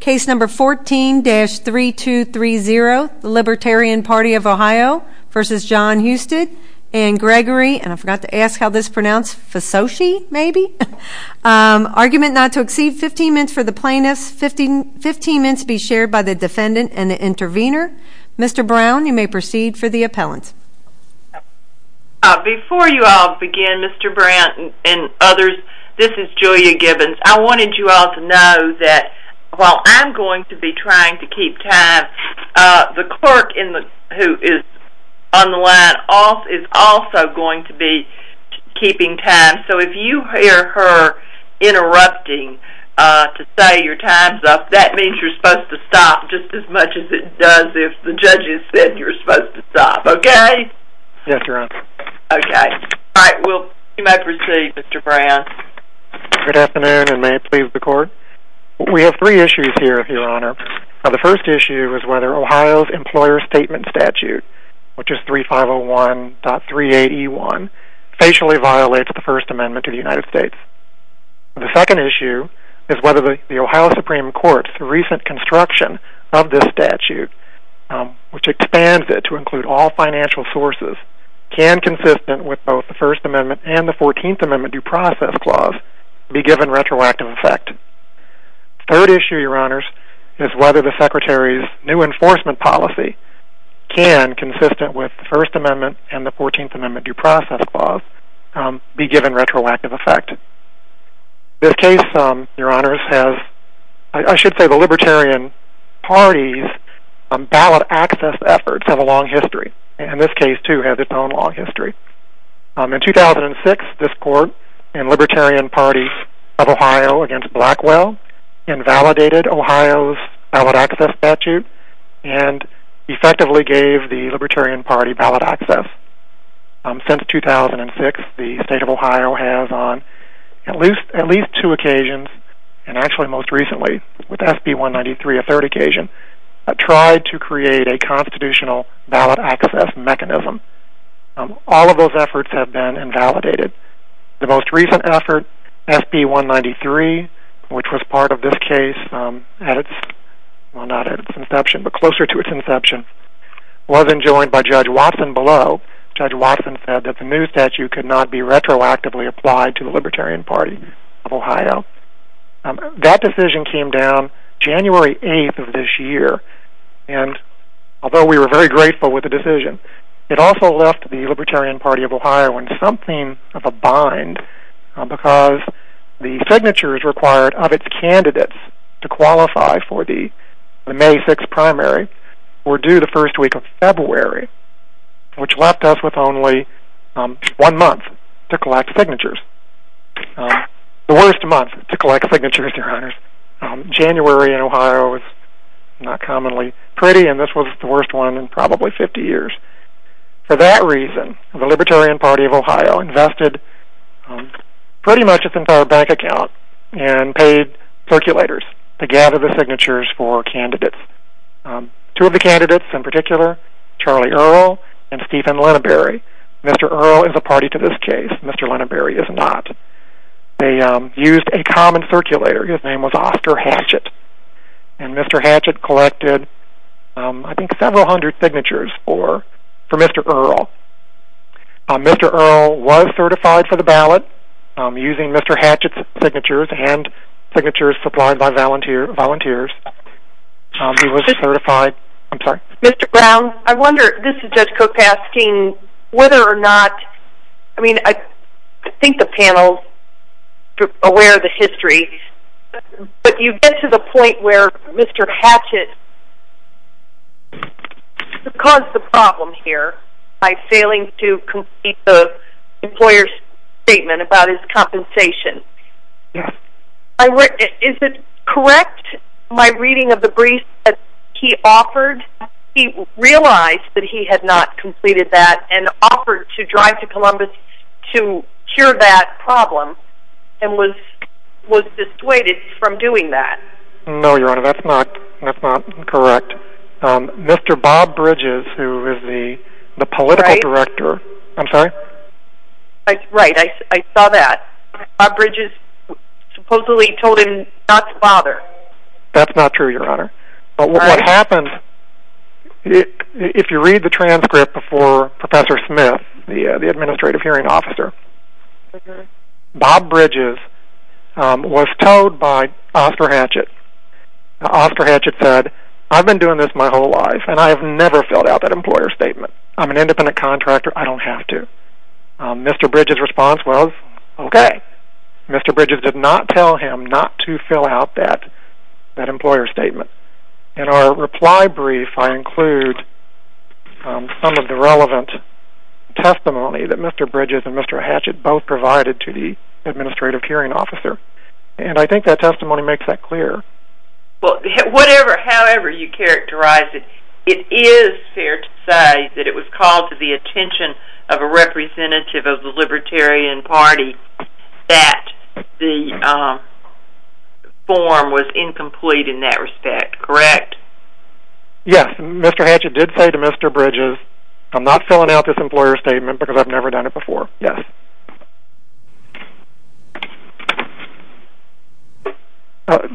Case No. 14-3230 Libertarian Party of Ohio v. John Husted v. Gregory Argument not to exceed 15 minutes for the plaintiff. 15 minutes be shared by the defendant and the intervener. Mr. Brown, you may proceed for the appellant. Before you all begin, Mr. Brown and others, this is Julia Gibbons. I wanted you all to know that while I'm going to be trying to keep time, the clerk who is on the line is also going to be keeping time, so if you hear her interrupting to say your time's up, that means you're supposed to stop just as much as it does if the judge has said you're supposed to stop. Okay? Yes, Your Honor. Okay. All right, you may proceed, Mr. Brown. Good afternoon, and may it please the court. We have three issues here, Your Honor. The first issue is whether Ohio's employer statement statute, which is 3501.38E1, facially violates the First Amendment to the United States. The second issue is whether the Ohio Supreme Court's recent construction of this statute, which expands it to include all financial sources, can, consistent with both the First Amendment and the Fourteenth Amendment due process clause, be given retroactive effect. The third issue, Your Honors, is whether the Secretary's new enforcement policy can, consistent with the First Amendment and the Fourteenth Amendment due process clause, be given retroactive effect. This case, Your Honors, has, I should say the Libertarian Party's ballot access efforts have a long history, and this case, too, has its own long history. In 2006, this court and Libertarian Party of Ohio against Blackwell invalidated Ohio's ballot access statute and effectively gave the Libertarian Party ballot access. Since 2006, the state of Ohio has on at least two occasions, and actually most recently with SB193, a third occasion, tried to create a constitutional ballot access mechanism. All of those efforts have been invalidated. The most recent effort, SB193, which was part of this case at its, well, not at its inception, but closer to its inception, wasn't joined by Judge Watson below. Judge Watson said that the new statute could not be retroactively applied to the Libertarian Party of Ohio. That decision came down January 8th of this year, and although we were very grateful with the decision, it also left the Libertarian Party of Ohio in something of a bind, because the signatures required of its candidates to qualify for the May 6th primary were due the first week of February, which left us with only one month to collect signatures. The worst month to collect signatures, your honors. January in Ohio is not commonly pretty, and this was the worst one in probably 50 years. For that reason, the Libertarian Party of Ohio invested pretty much its entire bank account and paid circulators to gather the signatures for candidates. Two of the candidates in particular, Charlie Earle and Stephen Lineberry. Mr. Earle is a party to this case. Mr. Lineberry is not. They used a common circulator. His name was Oscar Hatchett. And Mr. Hatchett collected, I think, several hundred signatures for Mr. Earle. Mr. Earle was certified for the ballot using Mr. Hatchett's signatures and signatures supplied by volunteers. He was certified. I'm sorry? Mr. Brown, I wonder, this is Judge Cook asking whether or not, I mean, I think the panel is aware of the history, but you get to the point where Mr. Hatchett caused the problem here by failing to complete the employer's statement about his compensation. Is it correct, my reading of the brief, that he offered, he realized that he had not completed that and offered to drive to Columbus to cure that problem and was dissuaded from doing that? No, Your Honor, that's not correct. Mr. Bob Bridges, who is the political director, I'm sorry? Right, I saw that. Bob Bridges supposedly told him not to bother. That's not true, Your Honor. But what happens, if you read the transcript before Professor Smith, the administrative hearing officer, Bob Bridges was told by Oscar Hatchett, Oscar Hatchett said, I've been doing this my whole life, and I have never filled out that employer's statement. I'm an independent contractor. I don't have to. Mr. Bridges' response was, okay. Mr. Bridges did not tell him not to fill out that employer's statement. In our reply brief, I include some of the relevant testimony that Mr. Bridges and Mr. Hatchett both provided to the administrative hearing officer. And I think that testimony makes that clear. Well, however you characterize it, it is fair to say that it was called to the attention of a representative of the Libertarian Party that the form was incomplete in that respect, correct? Yes, Mr. Hatchett did say to Mr. Bridges, I'm not filling out this employer's statement because I've never done it before. Yes.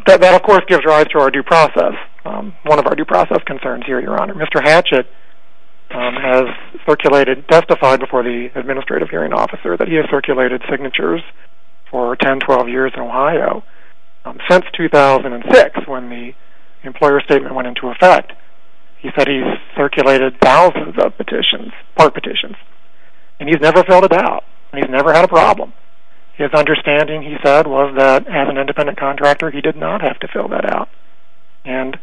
That, of course, gives rise to our due process. One of our due process concerns here, Your Honor. Mr. Hatchett has circulated, testified before the administrative hearing officer, that he has circulated signatures for 10, 12 years in Ohio. Since 2006, when the employer's statement went into effect, he said he circulated thousands of part petitions. And he's never filled it out. And he's never had a problem. His understanding, he said, was that as an independent contractor, he did not have to fill that out. And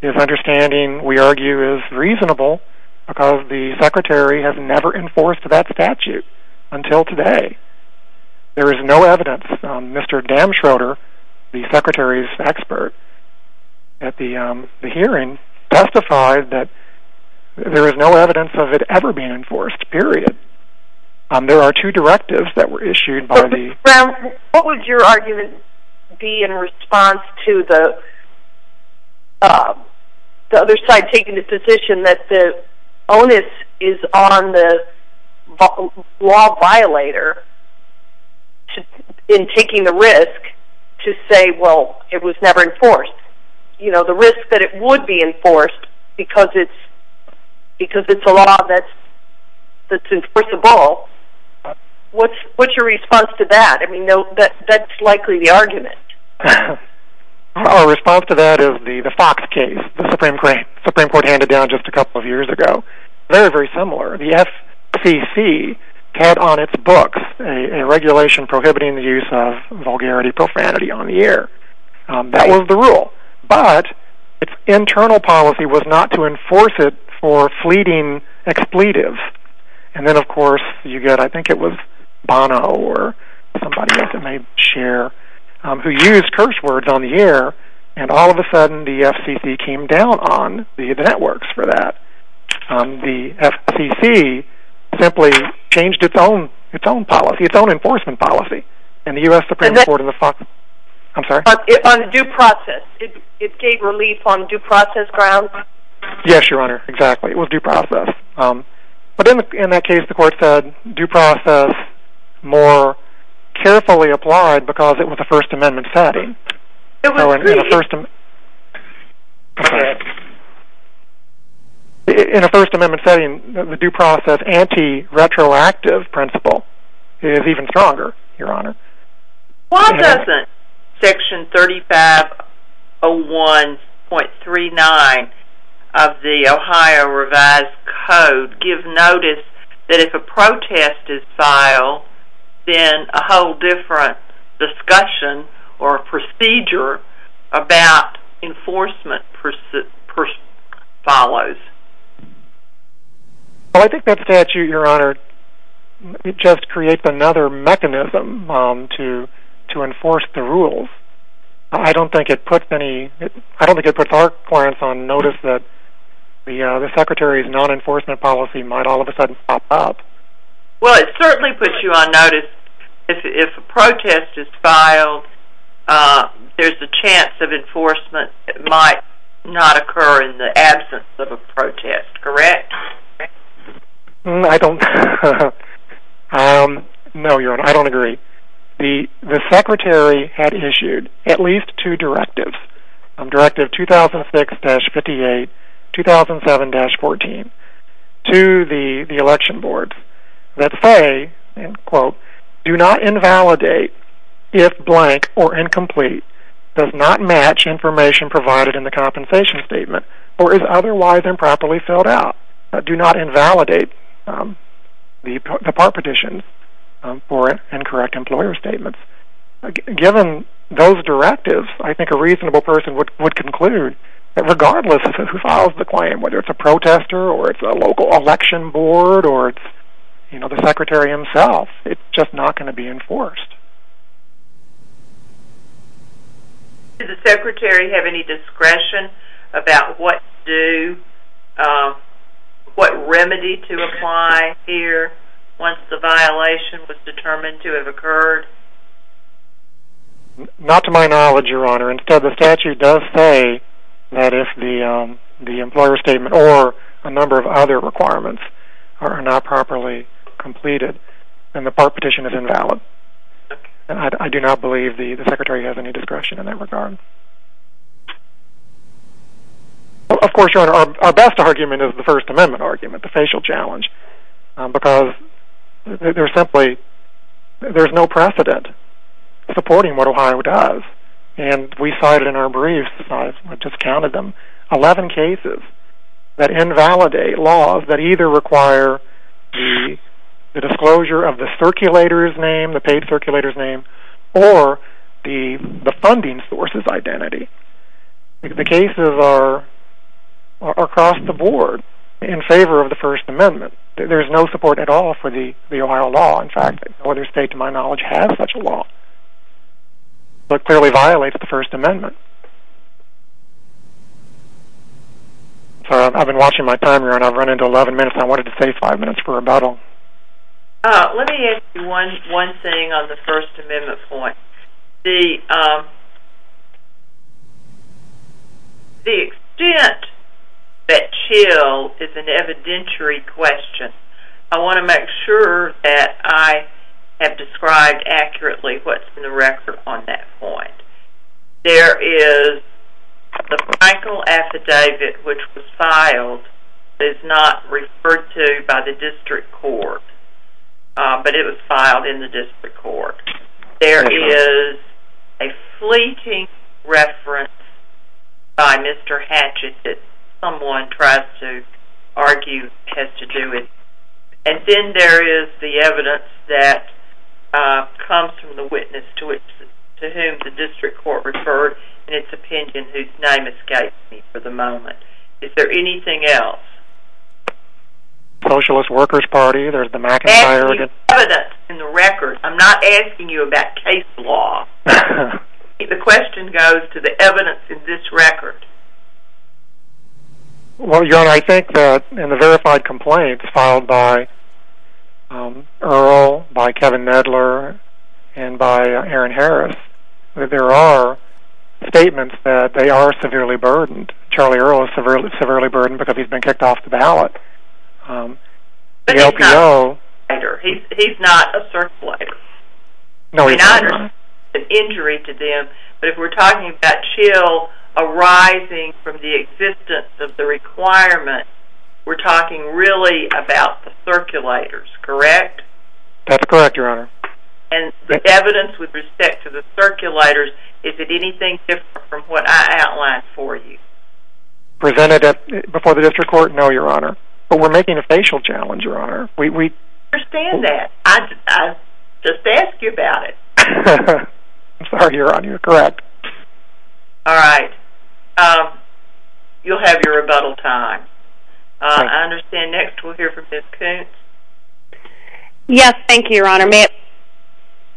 his understanding, we argue, is reasonable because the Secretary has never enforced that statute until today. There is no evidence. Mr. Damschroder, the Secretary's expert at the hearing, testified that there is no evidence of it ever being enforced, period. There are two directives that were issued by the Brown, what would your argument be in response to the other side taking the position that the onus is on the law violator in taking the risk to say, well, it was never enforced? The risk that it would be enforced because it's a law that's enforceable, what's your response to that? That's likely the argument. Our response to that is the Fox case the Supreme Court handed down just a couple of years ago. Very, very similar. The FCC had on its books a regulation prohibiting the use of vulgarity, profanity on the air. That was the rule. But its internal policy was not to enforce it for fleeting expletives. And then, of course, you get, I think it was Bono or somebody else who may share, who used curse words on the air, and all of a sudden the FCC came down on the networks for that. The FCC simply changed its own policy, its own enforcement policy. On due process, it gave relief on due process grounds? Yes, Your Honor, exactly. It was due process. But in that case, the court said due process more carefully applied because it was a First Amendment setting. In a First Amendment setting, the due process anti-retroactive principle is even stronger, Your Honor. Why doesn't Section 3501.39 of the Ohio Revised Code give notice that if a protest is filed, then a whole different discussion or procedure about enforcement follows? Well, I think that statute, Your Honor, just creates another mechanism to enforce the rules. I don't think it puts our clients on notice that the Secretary's non-enforcement policy might all of a sudden pop up. Well, it certainly puts you on notice if a protest is filed, there's a chance of enforcement that might not occur in the absence of a protest, correct? No, Your Honor, I don't agree. The Secretary had issued at least two directives, Directive 2006-58, 2007-14, to the election boards that say, Do not invalidate if blank or incomplete does not match information provided in the compensation statement or is otherwise improperly filled out. Do not invalidate the part petitions for incorrect employer statements. Given those directives, I think a reasonable person would conclude that regardless of who files the claim, whether it's a protester or it's a local election board or it's the Secretary himself, it's just not going to be enforced. Does the Secretary have any discretion about what remedy to apply here once the violation was determined to have occurred? Not to my knowledge, Your Honor. Instead, the statute does say that if the employer statement or a number of other requirements are not properly completed, then the part petition is invalid. I do not believe the Secretary has any discretion in that regard. Of course, Your Honor, our best argument is the First Amendment argument, the facial challenge, because there's no precedent supporting what Ohio does. We cited in our briefs 11 cases that invalidate laws that either require the disclosure of the paid circulator's name or the funding source's identity. The cases are across the board in favor of the First Amendment. There's no support at all for the Ohio law. In fact, no other state, to my knowledge, has such a law. It clearly violates the First Amendment. I've been watching my time, Your Honor. I've run into 11 minutes. I wanted to save five minutes for rebuttal. Let me add one thing on the First Amendment point. The extent that CHIL is an evidentiary question, I want to make sure that I have described accurately what's in the record on that point. There is the Michael affidavit, which was filed. It's not referred to by the district court, but it was filed in the district court. There is a fleeting reference by Mr. Hatchett that someone tries to argue has to do with it. And then there is the evidence that comes from the witness to whom the district court referred in its opinion, whose name escapes me for the moment. Is there anything else? Socialist Workers Party, there's the McIntyre... I'm asking you about evidence in the record. I'm not asking you about case law. The question goes to the evidence in this record. Well, Your Honor, I think that in the verified complaints filed by Earle, by Kevin Medler, and by Aaron Harris, there are statements that they are severely burdened. Charlie Earle is severely burdened because he's been kicked off the ballot. But he's not a circulator. He's not an injury to them. But if we're talking about chill arising from the existence of the requirement, we're talking really about the circulators, correct? That's correct, Your Honor. And the evidence with respect to the circulators, is it anything different from what I outlined for you? Presented before the district court? No, Your Honor. But we're making a facial challenge, Your Honor. I understand that. I just asked you about it. I'm sorry, Your Honor. You're correct. All right. You'll have your rebuttal time. I understand. Next we'll hear from Ms. Coontz. Yes, thank you, Your Honor. May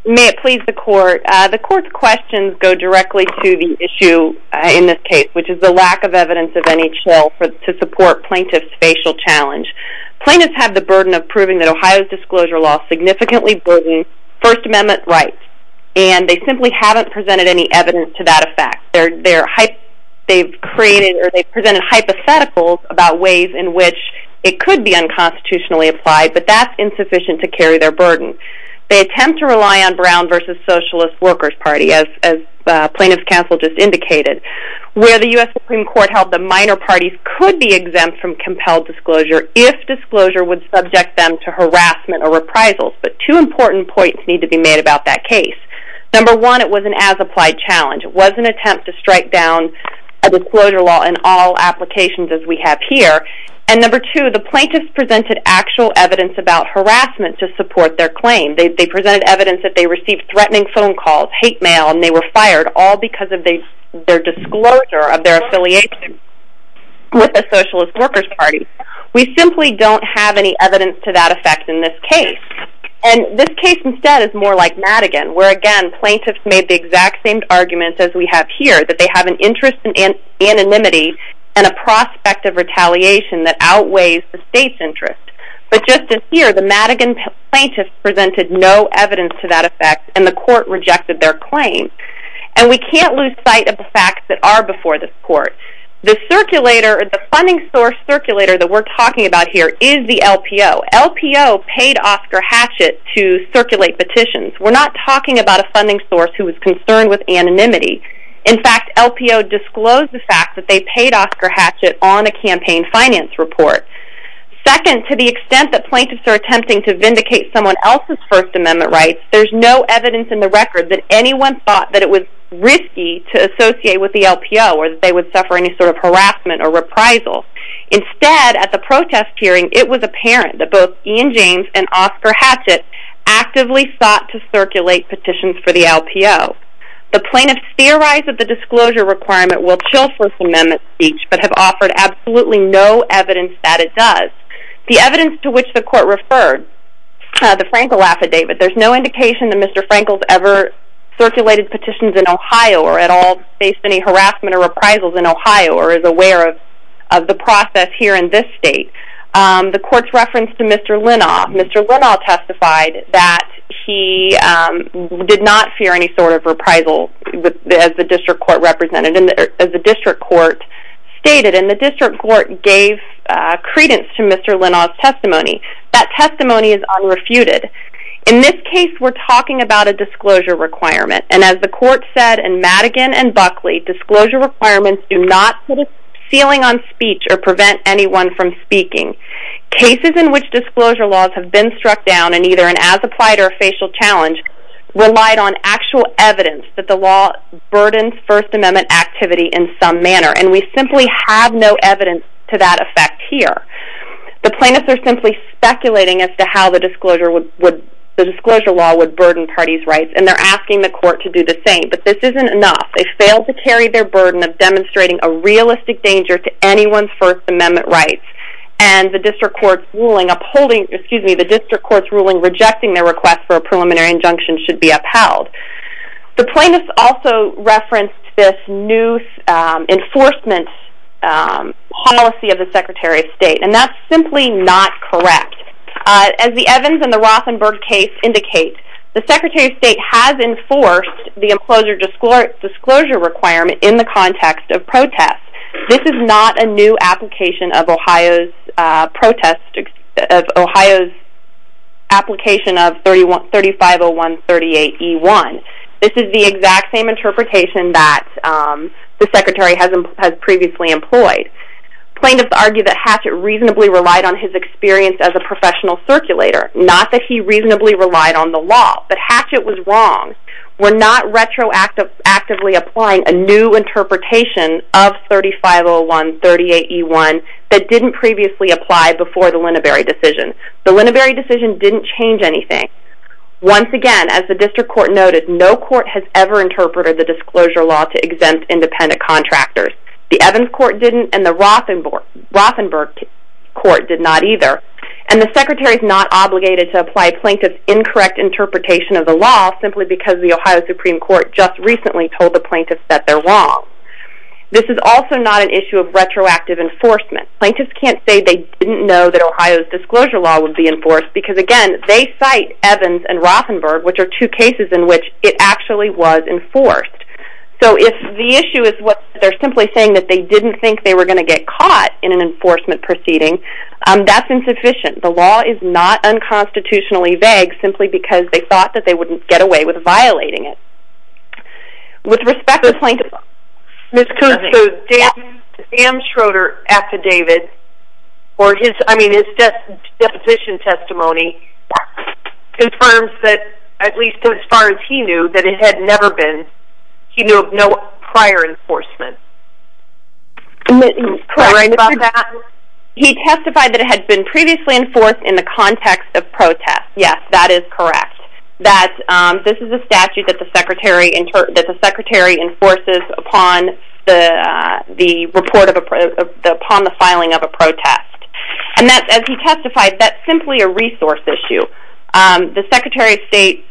it please the court. The court's questions go directly to the issue in this case, which is the lack of evidence of NHL to support plaintiff's facial challenge. Plaintiffs have the burden of proving that Ohio's disclosure law significantly burdens First Amendment rights. And they simply haven't presented any evidence to that effect. They've presented hypotheticals about ways in which it could be unconstitutionally applied, but that's insufficient to carry their burden. They attempt to rely on Brown v. Socialist Workers Party, as plaintiff's counsel just indicated. Where the U.S. Supreme Court held the minor parties could be exempt from compelled disclosure if disclosure would subject them to harassment or reprisals. But two important points need to be made about that case. Number one, it was an as-applied challenge. It was an attempt to strike down a disclosure law in all applications as we have here. And number two, the plaintiffs presented actual evidence about harassment to support their claim. They presented evidence that they received threatening phone calls, hate mail, and they were fired. All because of their disclosure of their affiliation with the Socialist Workers Party. We simply don't have any evidence to that effect in this case. And this case instead is more like Madigan, where again, plaintiffs made the exact same arguments as we have here. That they have an interest in anonymity and a prospect of retaliation that outweighs the state's interest. But just as here, the Madigan plaintiffs presented no evidence to that effect and the court rejected their claim. And we can't lose sight of the facts that are before this court. The funding source circulator that we're talking about here is the LPO. LPO paid Oscar Hatchett to circulate petitions. We're not talking about a funding source who is concerned with anonymity. In fact, LPO disclosed the fact that they paid Oscar Hatchett on a campaign finance report. Second, to the extent that plaintiffs are attempting to vindicate someone else's First Amendment rights, there's no evidence in the record that anyone thought that it was risky to associate with the LPO. Or that they would suffer any sort of harassment or reprisal. Instead, at the protest hearing, it was apparent that both Ian James and Oscar Hatchett actively sought to circulate petitions for the LPO. The plaintiffs theorize that the disclosure requirement will chill First Amendment speech, but have offered absolutely no evidence that it does. The evidence to which the court referred, the Frankel Affidavit, there's no indication that Mr. Frankel's ever circulated petitions in Ohio or at all faced any harassment or reprisals in Ohio or is aware of the process here in this state. The court's reference to Mr. Linnau, Mr. Linnau testified that he did not fear any sort of reprisal, as the district court stated, and the district court gave credence to Mr. Linnau's testimony. That testimony is unrefuted. In this case, we're talking about a disclosure requirement. And as the court said in Madigan and Buckley, disclosure requirements do not put a ceiling on speech or prevent anyone from speaking. Cases in which disclosure laws have been struck down in either an as-applied or a facial challenge relied on actual evidence that the law burdens First Amendment activity in some manner, and we simply have no evidence to that effect here. The plaintiffs are simply speculating as to how the disclosure law would burden parties' rights, and they're asking the court to do the same. But this isn't enough. They fail to carry their burden of demonstrating a realistic danger to anyone's First Amendment rights, and the district court's ruling rejecting their request for a preliminary injunction should be upheld. The plaintiffs also referenced this new enforcement policy of the Secretary of State, and that's simply not correct. As the Evans and the Rothenberg case indicate, the Secretary of State has enforced the disclosure requirement in the context of protest. This is not a new application of Ohio's application of 350138E1. This is the exact same interpretation that the Secretary has previously employed. Plaintiffs argue that Hatchett reasonably relied on his experience as a professional circulator, not that he reasonably relied on the law, but Hatchett was wrong. We're not retroactively applying a new interpretation of 350138E1 that didn't previously apply before the Lineberry decision. The Lineberry decision didn't change anything. Once again, as the district court noted, no court has ever interpreted the disclosure law to exempt independent contractors. The Evans court didn't, and the Rothenberg court did not either. And the Secretary is not obligated to apply a plaintiff's incorrect interpretation of the law simply because the Ohio Supreme Court just recently told the plaintiffs that they're wrong. This is also not an issue of retroactive enforcement. Plaintiffs can't say they didn't know that Ohio's disclosure law would be enforced, because again, they cite Evans and Rothenberg, which are two cases in which it actually was enforced. So if the issue is that they're simply saying that they didn't think they were going to get caught in an enforcement proceeding, that's insufficient. The law is not unconstitutionally vague simply because they thought that they wouldn't get away with violating it. With respect to plaintiffs... Ms. Coon, so Dan Schroeder's affidavit, or I mean his deposition testimony, confirms that, at least as far as he knew, that it had never been prior enforcement. Correct. He testified that it had been previously enforced in the context of protest. Yes, that is correct. This is a statute that the Secretary enforces upon the filing of a protest. And as he testified, that's simply a resource issue. The Secretary of State...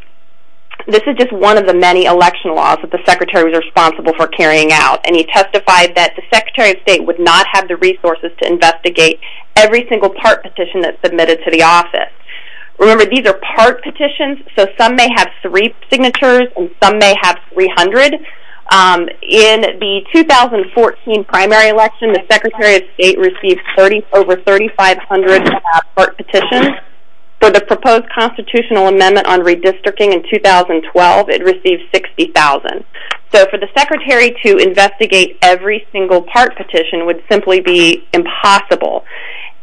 This is just one of the many election laws that the Secretary was responsible for carrying out, and he testified that the Secretary of State would not have the resources to investigate every single part petition that's submitted to the office. Remember, these are part petitions, so some may have three signatures and some may have 300. In the 2014 primary election, the Secretary of State received over 3,500 part petitions. For the proposed constitutional amendment on redistricting in 2012, it received 60,000. So for the Secretary to investigate every single part petition would simply be impossible,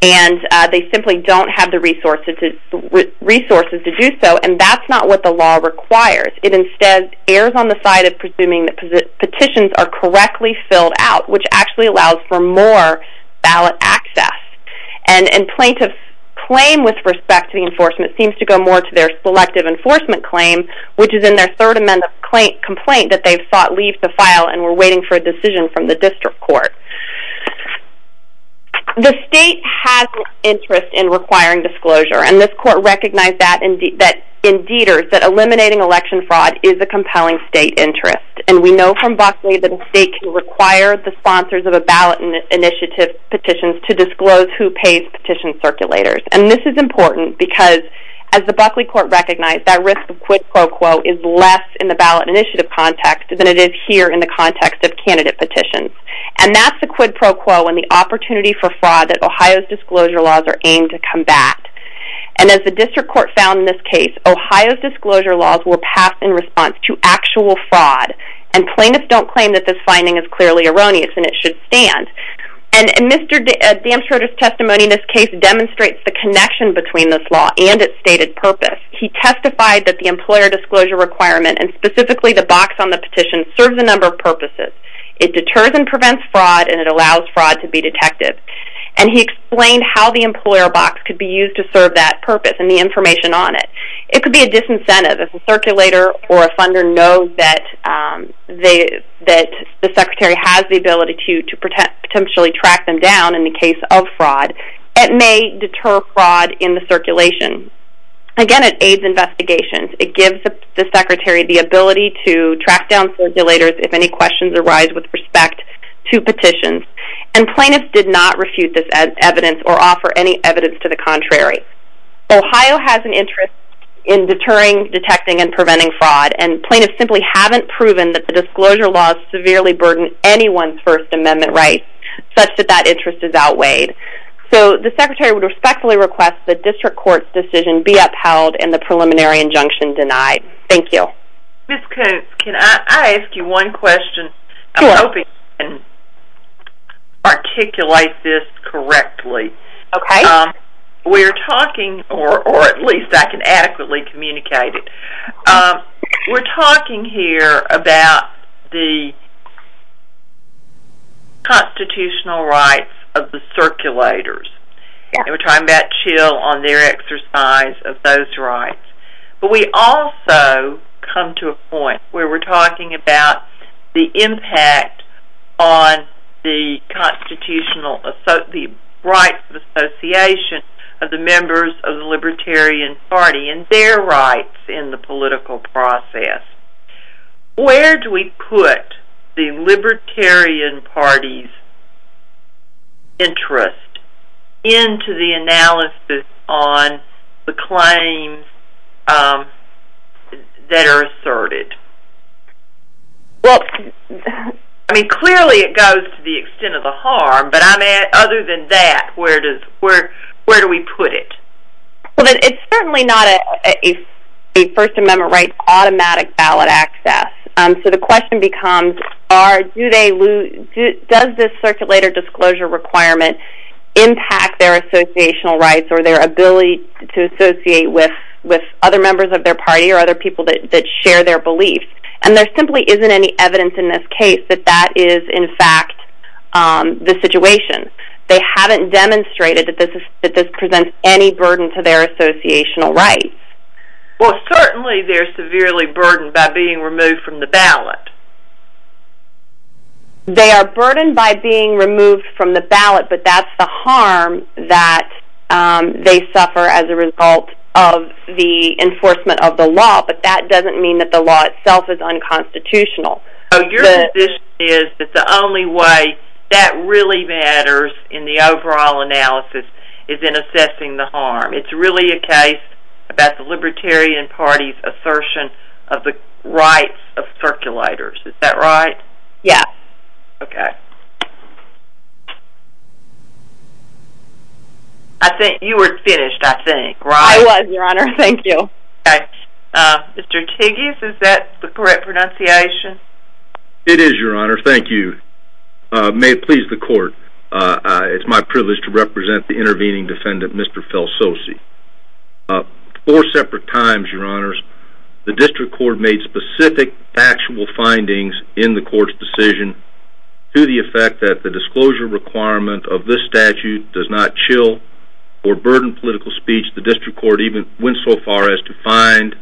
and they simply don't have the resources to do so, and that's not what the law requires. It instead errs on the side of presuming that petitions are correctly filled out, which actually allows for more ballot access. And plaintiffs' claim with respect to the enforcement seems to go more to their selective enforcement claim, which is in their Third Amendment complaint that they've sought leave to file and were waiting for a decision from the district court. The state has an interest in requiring disclosure, and this court recognized that in Dieter's that eliminating election fraud is a compelling state interest. And we know from Buckley that a state can require the sponsors of a ballot initiative petition to disclose who pays petition circulators. And this is important because, as the Buckley court recognized, that risk of quid pro quo is less in the ballot initiative context than it is here in the context of candidate petitions. And that's the quid pro quo and the opportunity for fraud that Ohio's disclosure laws are aimed to combat. And as the district court found in this case, Ohio's disclosure laws were passed in response to actual fraud, and plaintiffs don't claim that this finding is clearly erroneous and it should stand. And Mr. Damsroder's testimony in this case demonstrates the connection between this law and its stated purpose. He testified that the employer disclosure requirement, and specifically the box on the petition, serves a number of purposes. It deters and prevents fraud, and it allows fraud to be detected. And he explained how the employer box could be used to serve that purpose and the information on it. It could be a disincentive. If a circulator or a funder knows that the secretary has the ability to potentially track them down in the case of fraud, it may deter fraud in the circulation. Again, it aids investigations. It gives the secretary the ability to track down circulators if any questions arise with respect to petitions. And plaintiffs did not refute this evidence or offer any evidence to the contrary. Ohio has an interest in deterring, detecting, and preventing fraud, and plaintiffs simply haven't proven that the disclosure laws severely burden anyone's First Amendment rights, such that that interest is outweighed. So the secretary would respectfully request the district court's decision be upheld and the preliminary injunction denied. Thank you. Ms. Koontz, can I ask you one question? Sure. I'm hoping I can articulate this correctly. Okay. We're talking, or at least I can adequately communicate it. We're talking here about the constitutional rights of the circulators, and we're talking about CHIL on their exercise of those rights. But we also come to a point where we're talking about the impact on the constitutional, the rights of association of the members of the Libertarian Party and their rights in the political process. Where do we put the Libertarian Party's interest into the analysis on the claims that are asserted? Well, I mean, clearly it goes to the extent of the harm, but other than that, where do we put it? Well, it's certainly not a First Amendment right automatic ballot access. So the question becomes, does this circulator disclosure requirement impact their associational rights or their ability to associate with other members of their party or other people that share their beliefs? And there simply isn't any evidence in this case that that is, in fact, the situation. They haven't demonstrated that this presents any burden to their associational rights. Well, certainly they're severely burdened by being removed from the ballot. They are burdened by being removed from the ballot, but that's the harm that they suffer as a result of the enforcement of the law. But that doesn't mean that the law itself is unconstitutional. So your position is that the only way that really matters in the overall analysis is in assessing the harm. It's really a case about the Libertarian Party's assertion of the rights of circulators. Is that right? Yes. Okay. I think you were finished, I think, right? I was, Your Honor. Thank you. Okay. Mr. Tigges, is that the correct pronunciation? It is, Your Honor. Thank you. May it please the court. It's my privilege to represent the intervening defendant, Mr. Felsosi. Four separate times, Your Honors, the district court made specific factual findings in the court's decision to the effect that the disclosure requirement of this statute does not chill or burden political speech. The district court even went so far as to find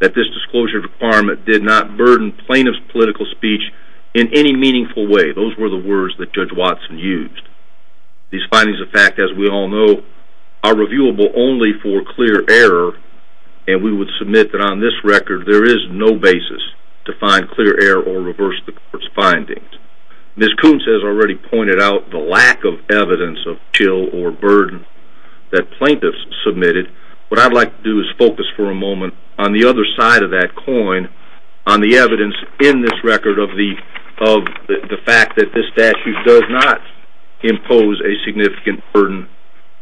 that this disclosure requirement did not burden plaintiff's political speech in any meaningful way. Those were the words that Judge Watson used. These findings of fact, as we all know, are reviewable only for clear error, and we would submit that on this record there is no basis to find clear error or reverse the court's findings. Ms. Koontz has already pointed out the lack of evidence of chill or burden that plaintiffs submitted. What I'd like to do is focus for a moment on the other side of that coin, on the evidence in this record of the fact that this statute does not impose a significant burden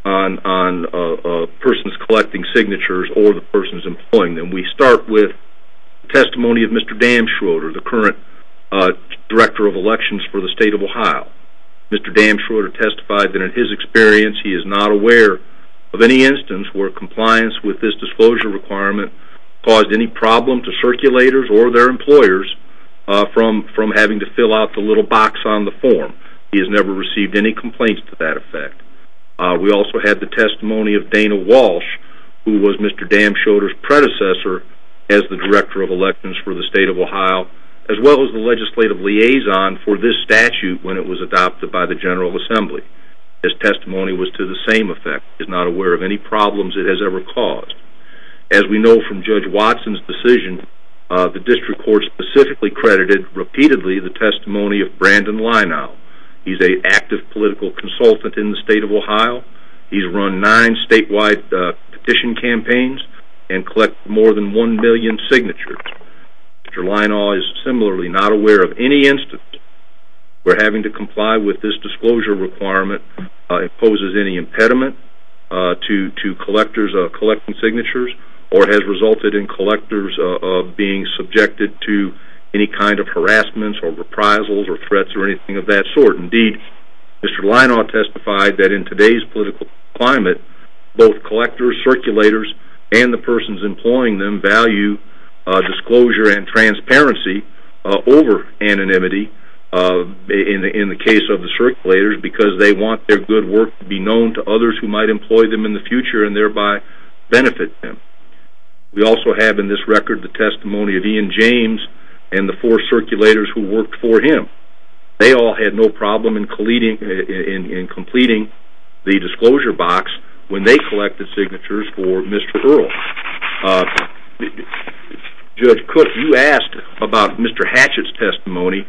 on persons collecting signatures or the persons employing them. We start with testimony of Mr. Damschroder, the current Director of Elections for the State of Ohio. Mr. Damschroder testified that in his experience he is not aware of any instance where compliance with this disclosure requirement caused any problem to circulators or their employers from having to fill out the little box on the form. He has never received any complaints to that effect. We also had the testimony of Dana Walsh, who was Mr. Damschroder's predecessor as the Director of Elections for the State of Ohio, as well as the legislative liaison for this statute when it was adopted by the General Assembly. His testimony was to the same effect. He is not aware of any problems it has ever caused. As we know from Judge Watson's decision, the District Court specifically credited repeatedly the testimony of Brandon Leinow. He's an active political consultant in the State of Ohio. He's run nine statewide petition campaigns and collected more than one million signatures. Mr. Leinow is similarly not aware of any instance where having to comply with this disclosure requirement imposes any impediment to collectors collecting signatures or has resulted in collectors being subjected to any kind of harassment or reprisals or threats or anything of that sort. Indeed, Mr. Leinow testified that in today's political climate, both collectors, circulators, and the persons employing them value disclosure and transparency over anonymity in the case of the circulators because they want their good work to be known to others who might employ them in the future and thereby benefit them. We also have in this record the testimony of Ian James and the four circulators who worked for him. They all had no problem in completing the disclosure box when they collected signatures for Mr. Earle. Judge Cook, you asked about Mr. Hatchett's testimony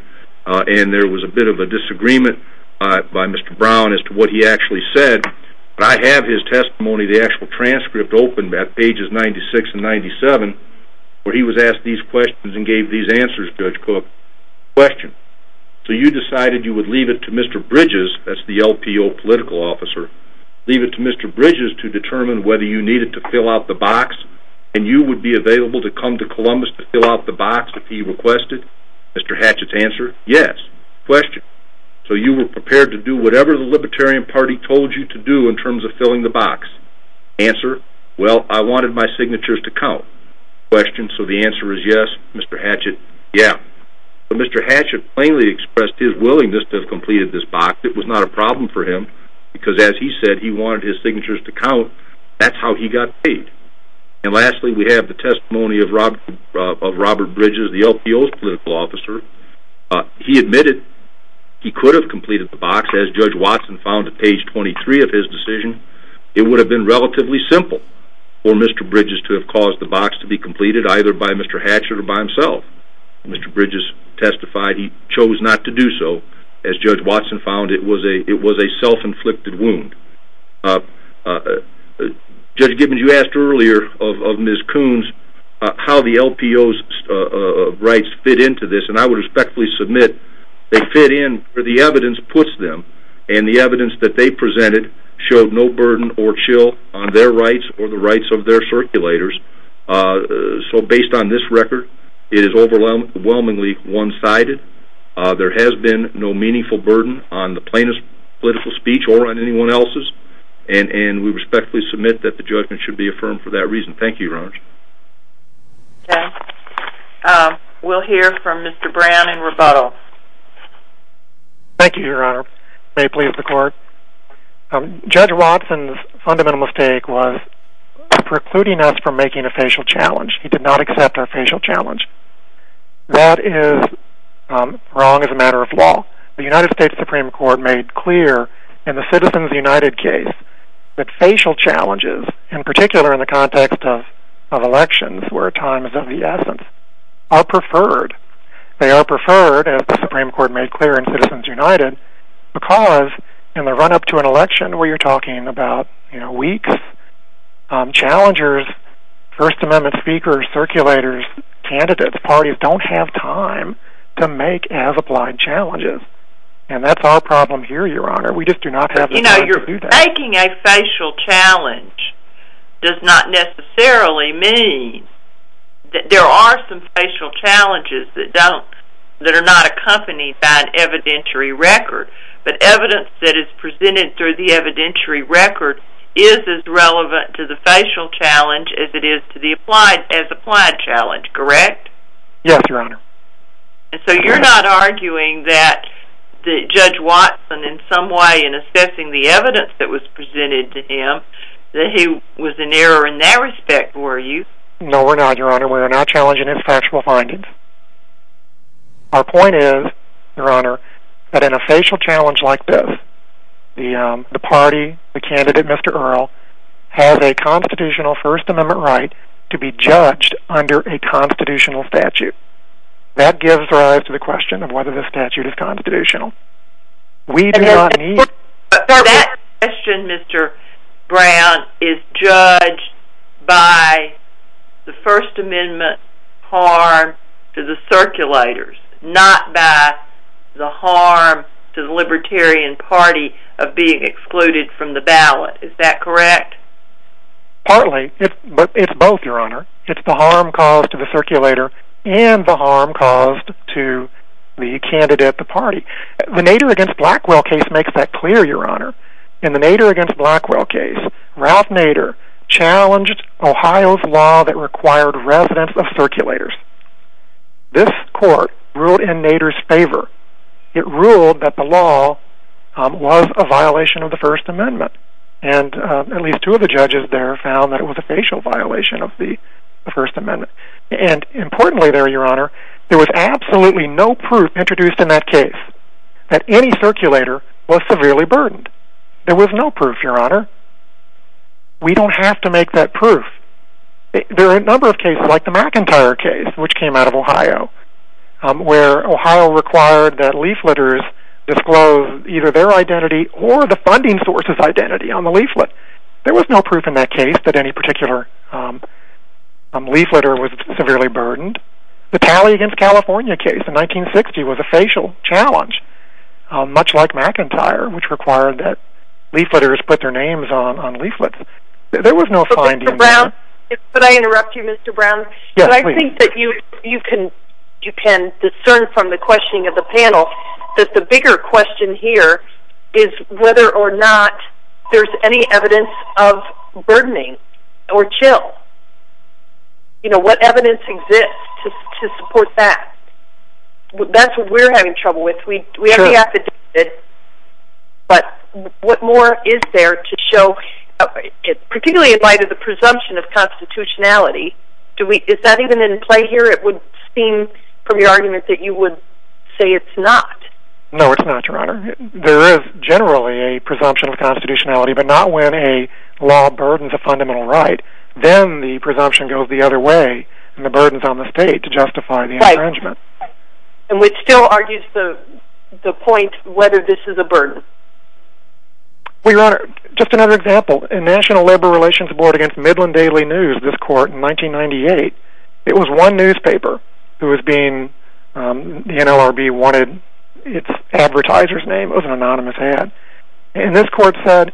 and there was a bit of a disagreement by Mr. Brown as to what he actually said, but I have his testimony, the actual transcript opened at pages 96 and 97 where he was asked these questions and gave these answers, Judge Cook. Question. So you decided you would leave it to Mr. Bridges, that's the LPO political officer, leave it to Mr. Bridges to determine whether you needed to fill out the box and you would be available to come to Columbus to fill out the box if he requested? Mr. Hatchett's answer, yes. Question. So you were prepared to do whatever the Libertarian Party told you to do in terms of filling the box? Answer. Well, I wanted my signatures to count. Question. So the answer is yes, Mr. Hatchett? Yeah. But Mr. Hatchett plainly expressed his willingness to have completed this box. It was not a problem for him because, as he said, he wanted his signatures to count. That's how he got paid. And lastly, we have the testimony of Robert Bridges, the LPO's political officer. He admitted he could have completed the box, as Judge Watson found at page 23 of his decision. It would have been relatively simple for Mr. Bridges to have caused the box to be completed either by Mr. Hatchett or by himself. Mr. Bridges testified he chose not to do so. As Judge Watson found, it was a self-inflicted wound. Judge Gibbons, you asked earlier of Ms. Coons how the LPO's rights fit into this, and I would respectfully submit they fit in where the evidence puts them, and the evidence that they presented showed no burden or chill on their rights or the rights of their circulators. So based on this record, it is overwhelmingly one-sided. There has been no meaningful burden on the plaintiff's political speech or on anyone else's, and we respectfully submit that the judgment should be affirmed for that reason. Thank you, Your Honor. Okay. We'll hear from Mr. Brown in rebuttal. Judge Watson's fundamental mistake was precluding us from making a facial challenge. He did not accept our facial challenge. That is wrong as a matter of law. The United States Supreme Court made clear in the Citizens United case that facial challenges, in particular in the context of elections where time is of the essence, are preferred. They are preferred, as the Supreme Court made clear in Citizens United, because in the run-up to an election where you're talking about weeks, challengers, First Amendment speakers, circulators, candidates, parties, don't have time to make as-applied challenges. And that's our problem here, Your Honor. We just do not have the means to do that. You know, making a facial challenge does not necessarily mean that there are some facial challenges that are not accompanied by an evidentiary record. But evidence that is presented through the evidentiary record is as relevant to the facial challenge as it is to the as-applied challenge, correct? Yes, Your Honor. And so you're not arguing that Judge Watson, in some way, in assessing the evidence that was presented to him, that he was in error in that respect, were you? No, we're not, Your Honor. We're not challenging his factual findings. Our point is, Your Honor, that in a facial challenge like this, the party, the candidate, Mr. Earle, has a constitutional First Amendment right to be judged under a constitutional statute. That gives rise to the question of whether this statute is constitutional. That question, Mr. Brown, is judged by the First Amendment harm to the circulators, not by the harm to the Libertarian Party of being excluded from the ballot. Is that correct? Partly. But it's both, Your Honor. It's the harm caused to the circulator and the harm caused to the candidate at the party. The Nader v. Blackwell case makes that clear, Your Honor. In the Nader v. Blackwell case, Ralph Nader challenged Ohio's law that required residents of circulators. This court ruled in Nader's favor. It ruled that the law was a violation of the First Amendment. And at least two of the judges there found that it was a facial violation of the First Amendment. And importantly there, Your Honor, there was absolutely no proof introduced in that case that any circulator was severely burdened. There was no proof, Your Honor. We don't have to make that proof. There are a number of cases, like the McIntyre case, which came out of Ohio, where Ohio required that leafleters disclose either their identity or the funding source's identity on the leaflet. But there was no proof in that case that any particular leafleter was severely burdened. The Talley v. California case in 1960 was a facial challenge, much like McIntyre, which required that leafleters put their names on leaflets. There was no finding in that. Could I interrupt you, Mr. Brown? Yes, please. I think that you can discern from the questioning of the panel that the bigger question here is whether or not there's any evidence of burdening or chill. You know, what evidence exists to support that? That's what we're having trouble with. We have the affidavit, but what more is there to show, particularly in light of the presumption of constitutionality, is that even in play here? It would seem from your argument that you would say it's not. No, it's not, Your Honor. There is generally a presumption of constitutionality, but not when a law burdens a fundamental right. Then the presumption goes the other way, and the burden's on the state to justify the infringement. Right. And which still argues the point whether this is a burden. Well, Your Honor, just another example. In National Labor Relations Board against Midland Daily News, this court in 1998, it was one newspaper who was being, the NLRB wanted its advertiser's name, it was an anonymous ad, and this court said,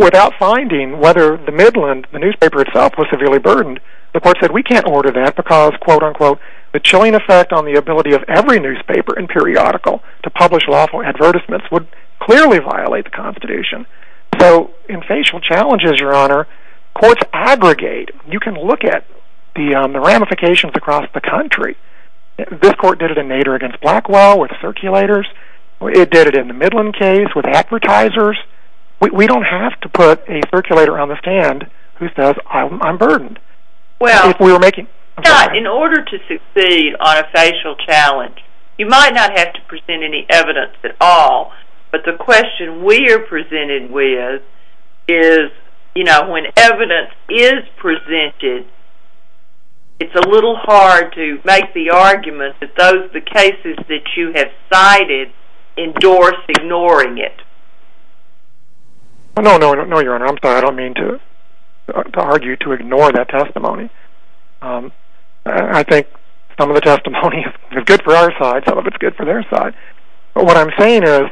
without finding whether the Midland, the newspaper itself, was severely burdened, the court said we can't order that because, quote-unquote, the chilling effect on the ability of every newspaper and periodical to publish lawful advertisements would clearly violate the Constitution. So in facial challenges, Your Honor, courts abrogate. You can look at the ramifications across the country. This court did it in Nader against Blackwell with circulators. It did it in the Midland case with advertisers. We don't have to put a circulator on the stand who says, I'm burdened. Well, in order to succeed on a facial challenge, you might not have to present any evidence at all, but the question we are presented with is, you know, when evidence is presented, it's a little hard to make the argument that the cases that you have cited endorse ignoring it. No, Your Honor, I'm sorry. I don't mean to argue to ignore that testimony. I think some of the testimony is good for our side, some of it's good for their side. But what I'm saying is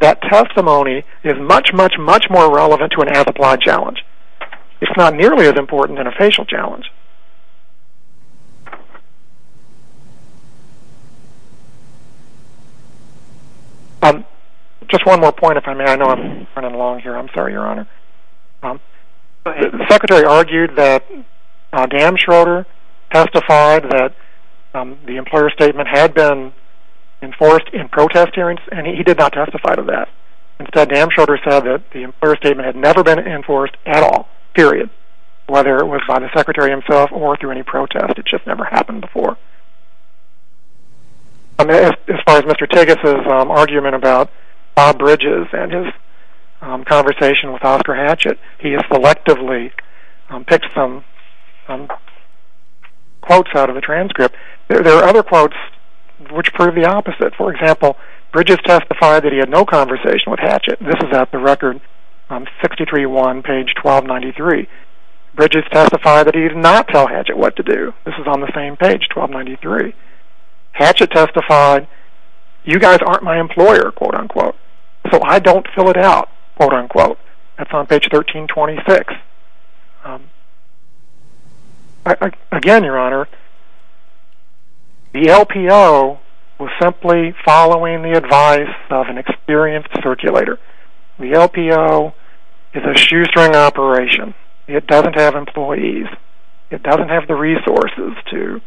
that testimony is much, much, much more relevant to an as-applied challenge. It's not nearly as important in a facial challenge. Just one more point, if I may. I know I'm running along here. I'm sorry, Your Honor. The Secretary argued that Damschroder testified that the employer statement had been enforced in protest hearings, and he did not testify to that. Instead, Damschroder said that the employer statement had never been enforced at all, period, whether it was by the Secretary himself or through any protest. It just never happened before. As far as Mr. Tigges' argument about Bob Bridges and his conversation with Oscar Hatchett, he has selectively picked some quotes out of the transcript. There are other quotes which prove the opposite. For example, Bridges testified that he had no conversation with Hatchett. This is at the record 63-1, page 1293. Bridges testified that he did not tell Hatchett what to do. This is on the same page, 1293. Hatchett testified, you guys aren't my employer, quote-unquote. So I don't fill it out, quote-unquote. That's on page 1326. Again, Your Honor, the LPO was simply following the advice of an experienced circulator. The LPO is a shoestring operation. It doesn't have employees. It doesn't have the resources to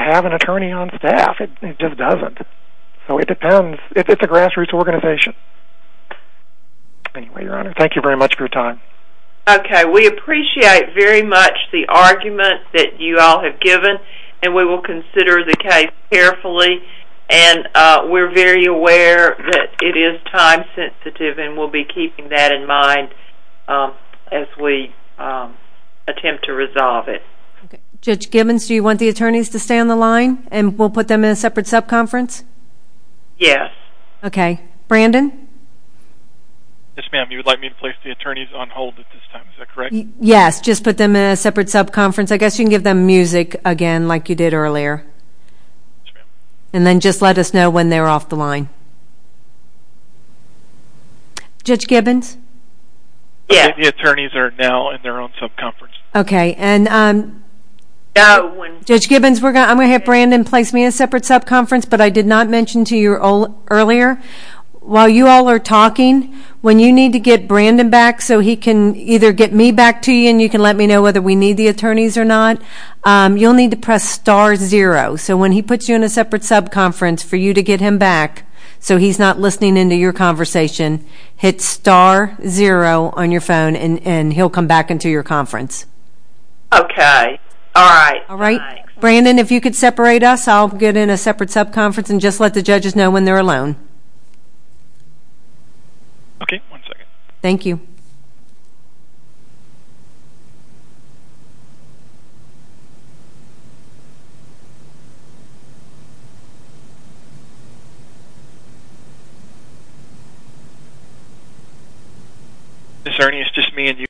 have an attorney on staff. It just doesn't. So it depends. It's a grassroots organization. Anyway, Your Honor, thank you very much for your time. Okay. We appreciate very much the argument that you all have given, and we will consider the case carefully. And we're very aware that it is time-sensitive, and we'll be keeping that in mind as we attempt to resolve it. Judge Gibbons, do you want the attorneys to stay on the line and we'll put them in a separate sub-conference? Yes. Okay. Brandon? Yes, ma'am. You would like me to place the attorneys on hold at this time, is that correct? Yes, just put them in a separate sub-conference. I guess you can give them music again like you did earlier. Yes, ma'am. And then just let us know when they're off the line. Judge Gibbons? Yes. The attorneys are now in their own sub-conference. Okay. Judge Gibbons, I'm going to have Brandon place me in a separate sub-conference, but I did not mention to you earlier, while you all are talking, when you need to get Brandon back so he can either get me back to you or you can let me know whether we need the attorneys or not, you'll need to press star zero. So when he puts you in a separate sub-conference, for you to get him back so he's not listening into your conversation, hit star zero on your phone and he'll come back into your conference. Okay. All right. All right. Brandon, if you could separate us, I'll get in a separate sub-conference and just let the judges know when they're alone. Okay. One second. Thank you.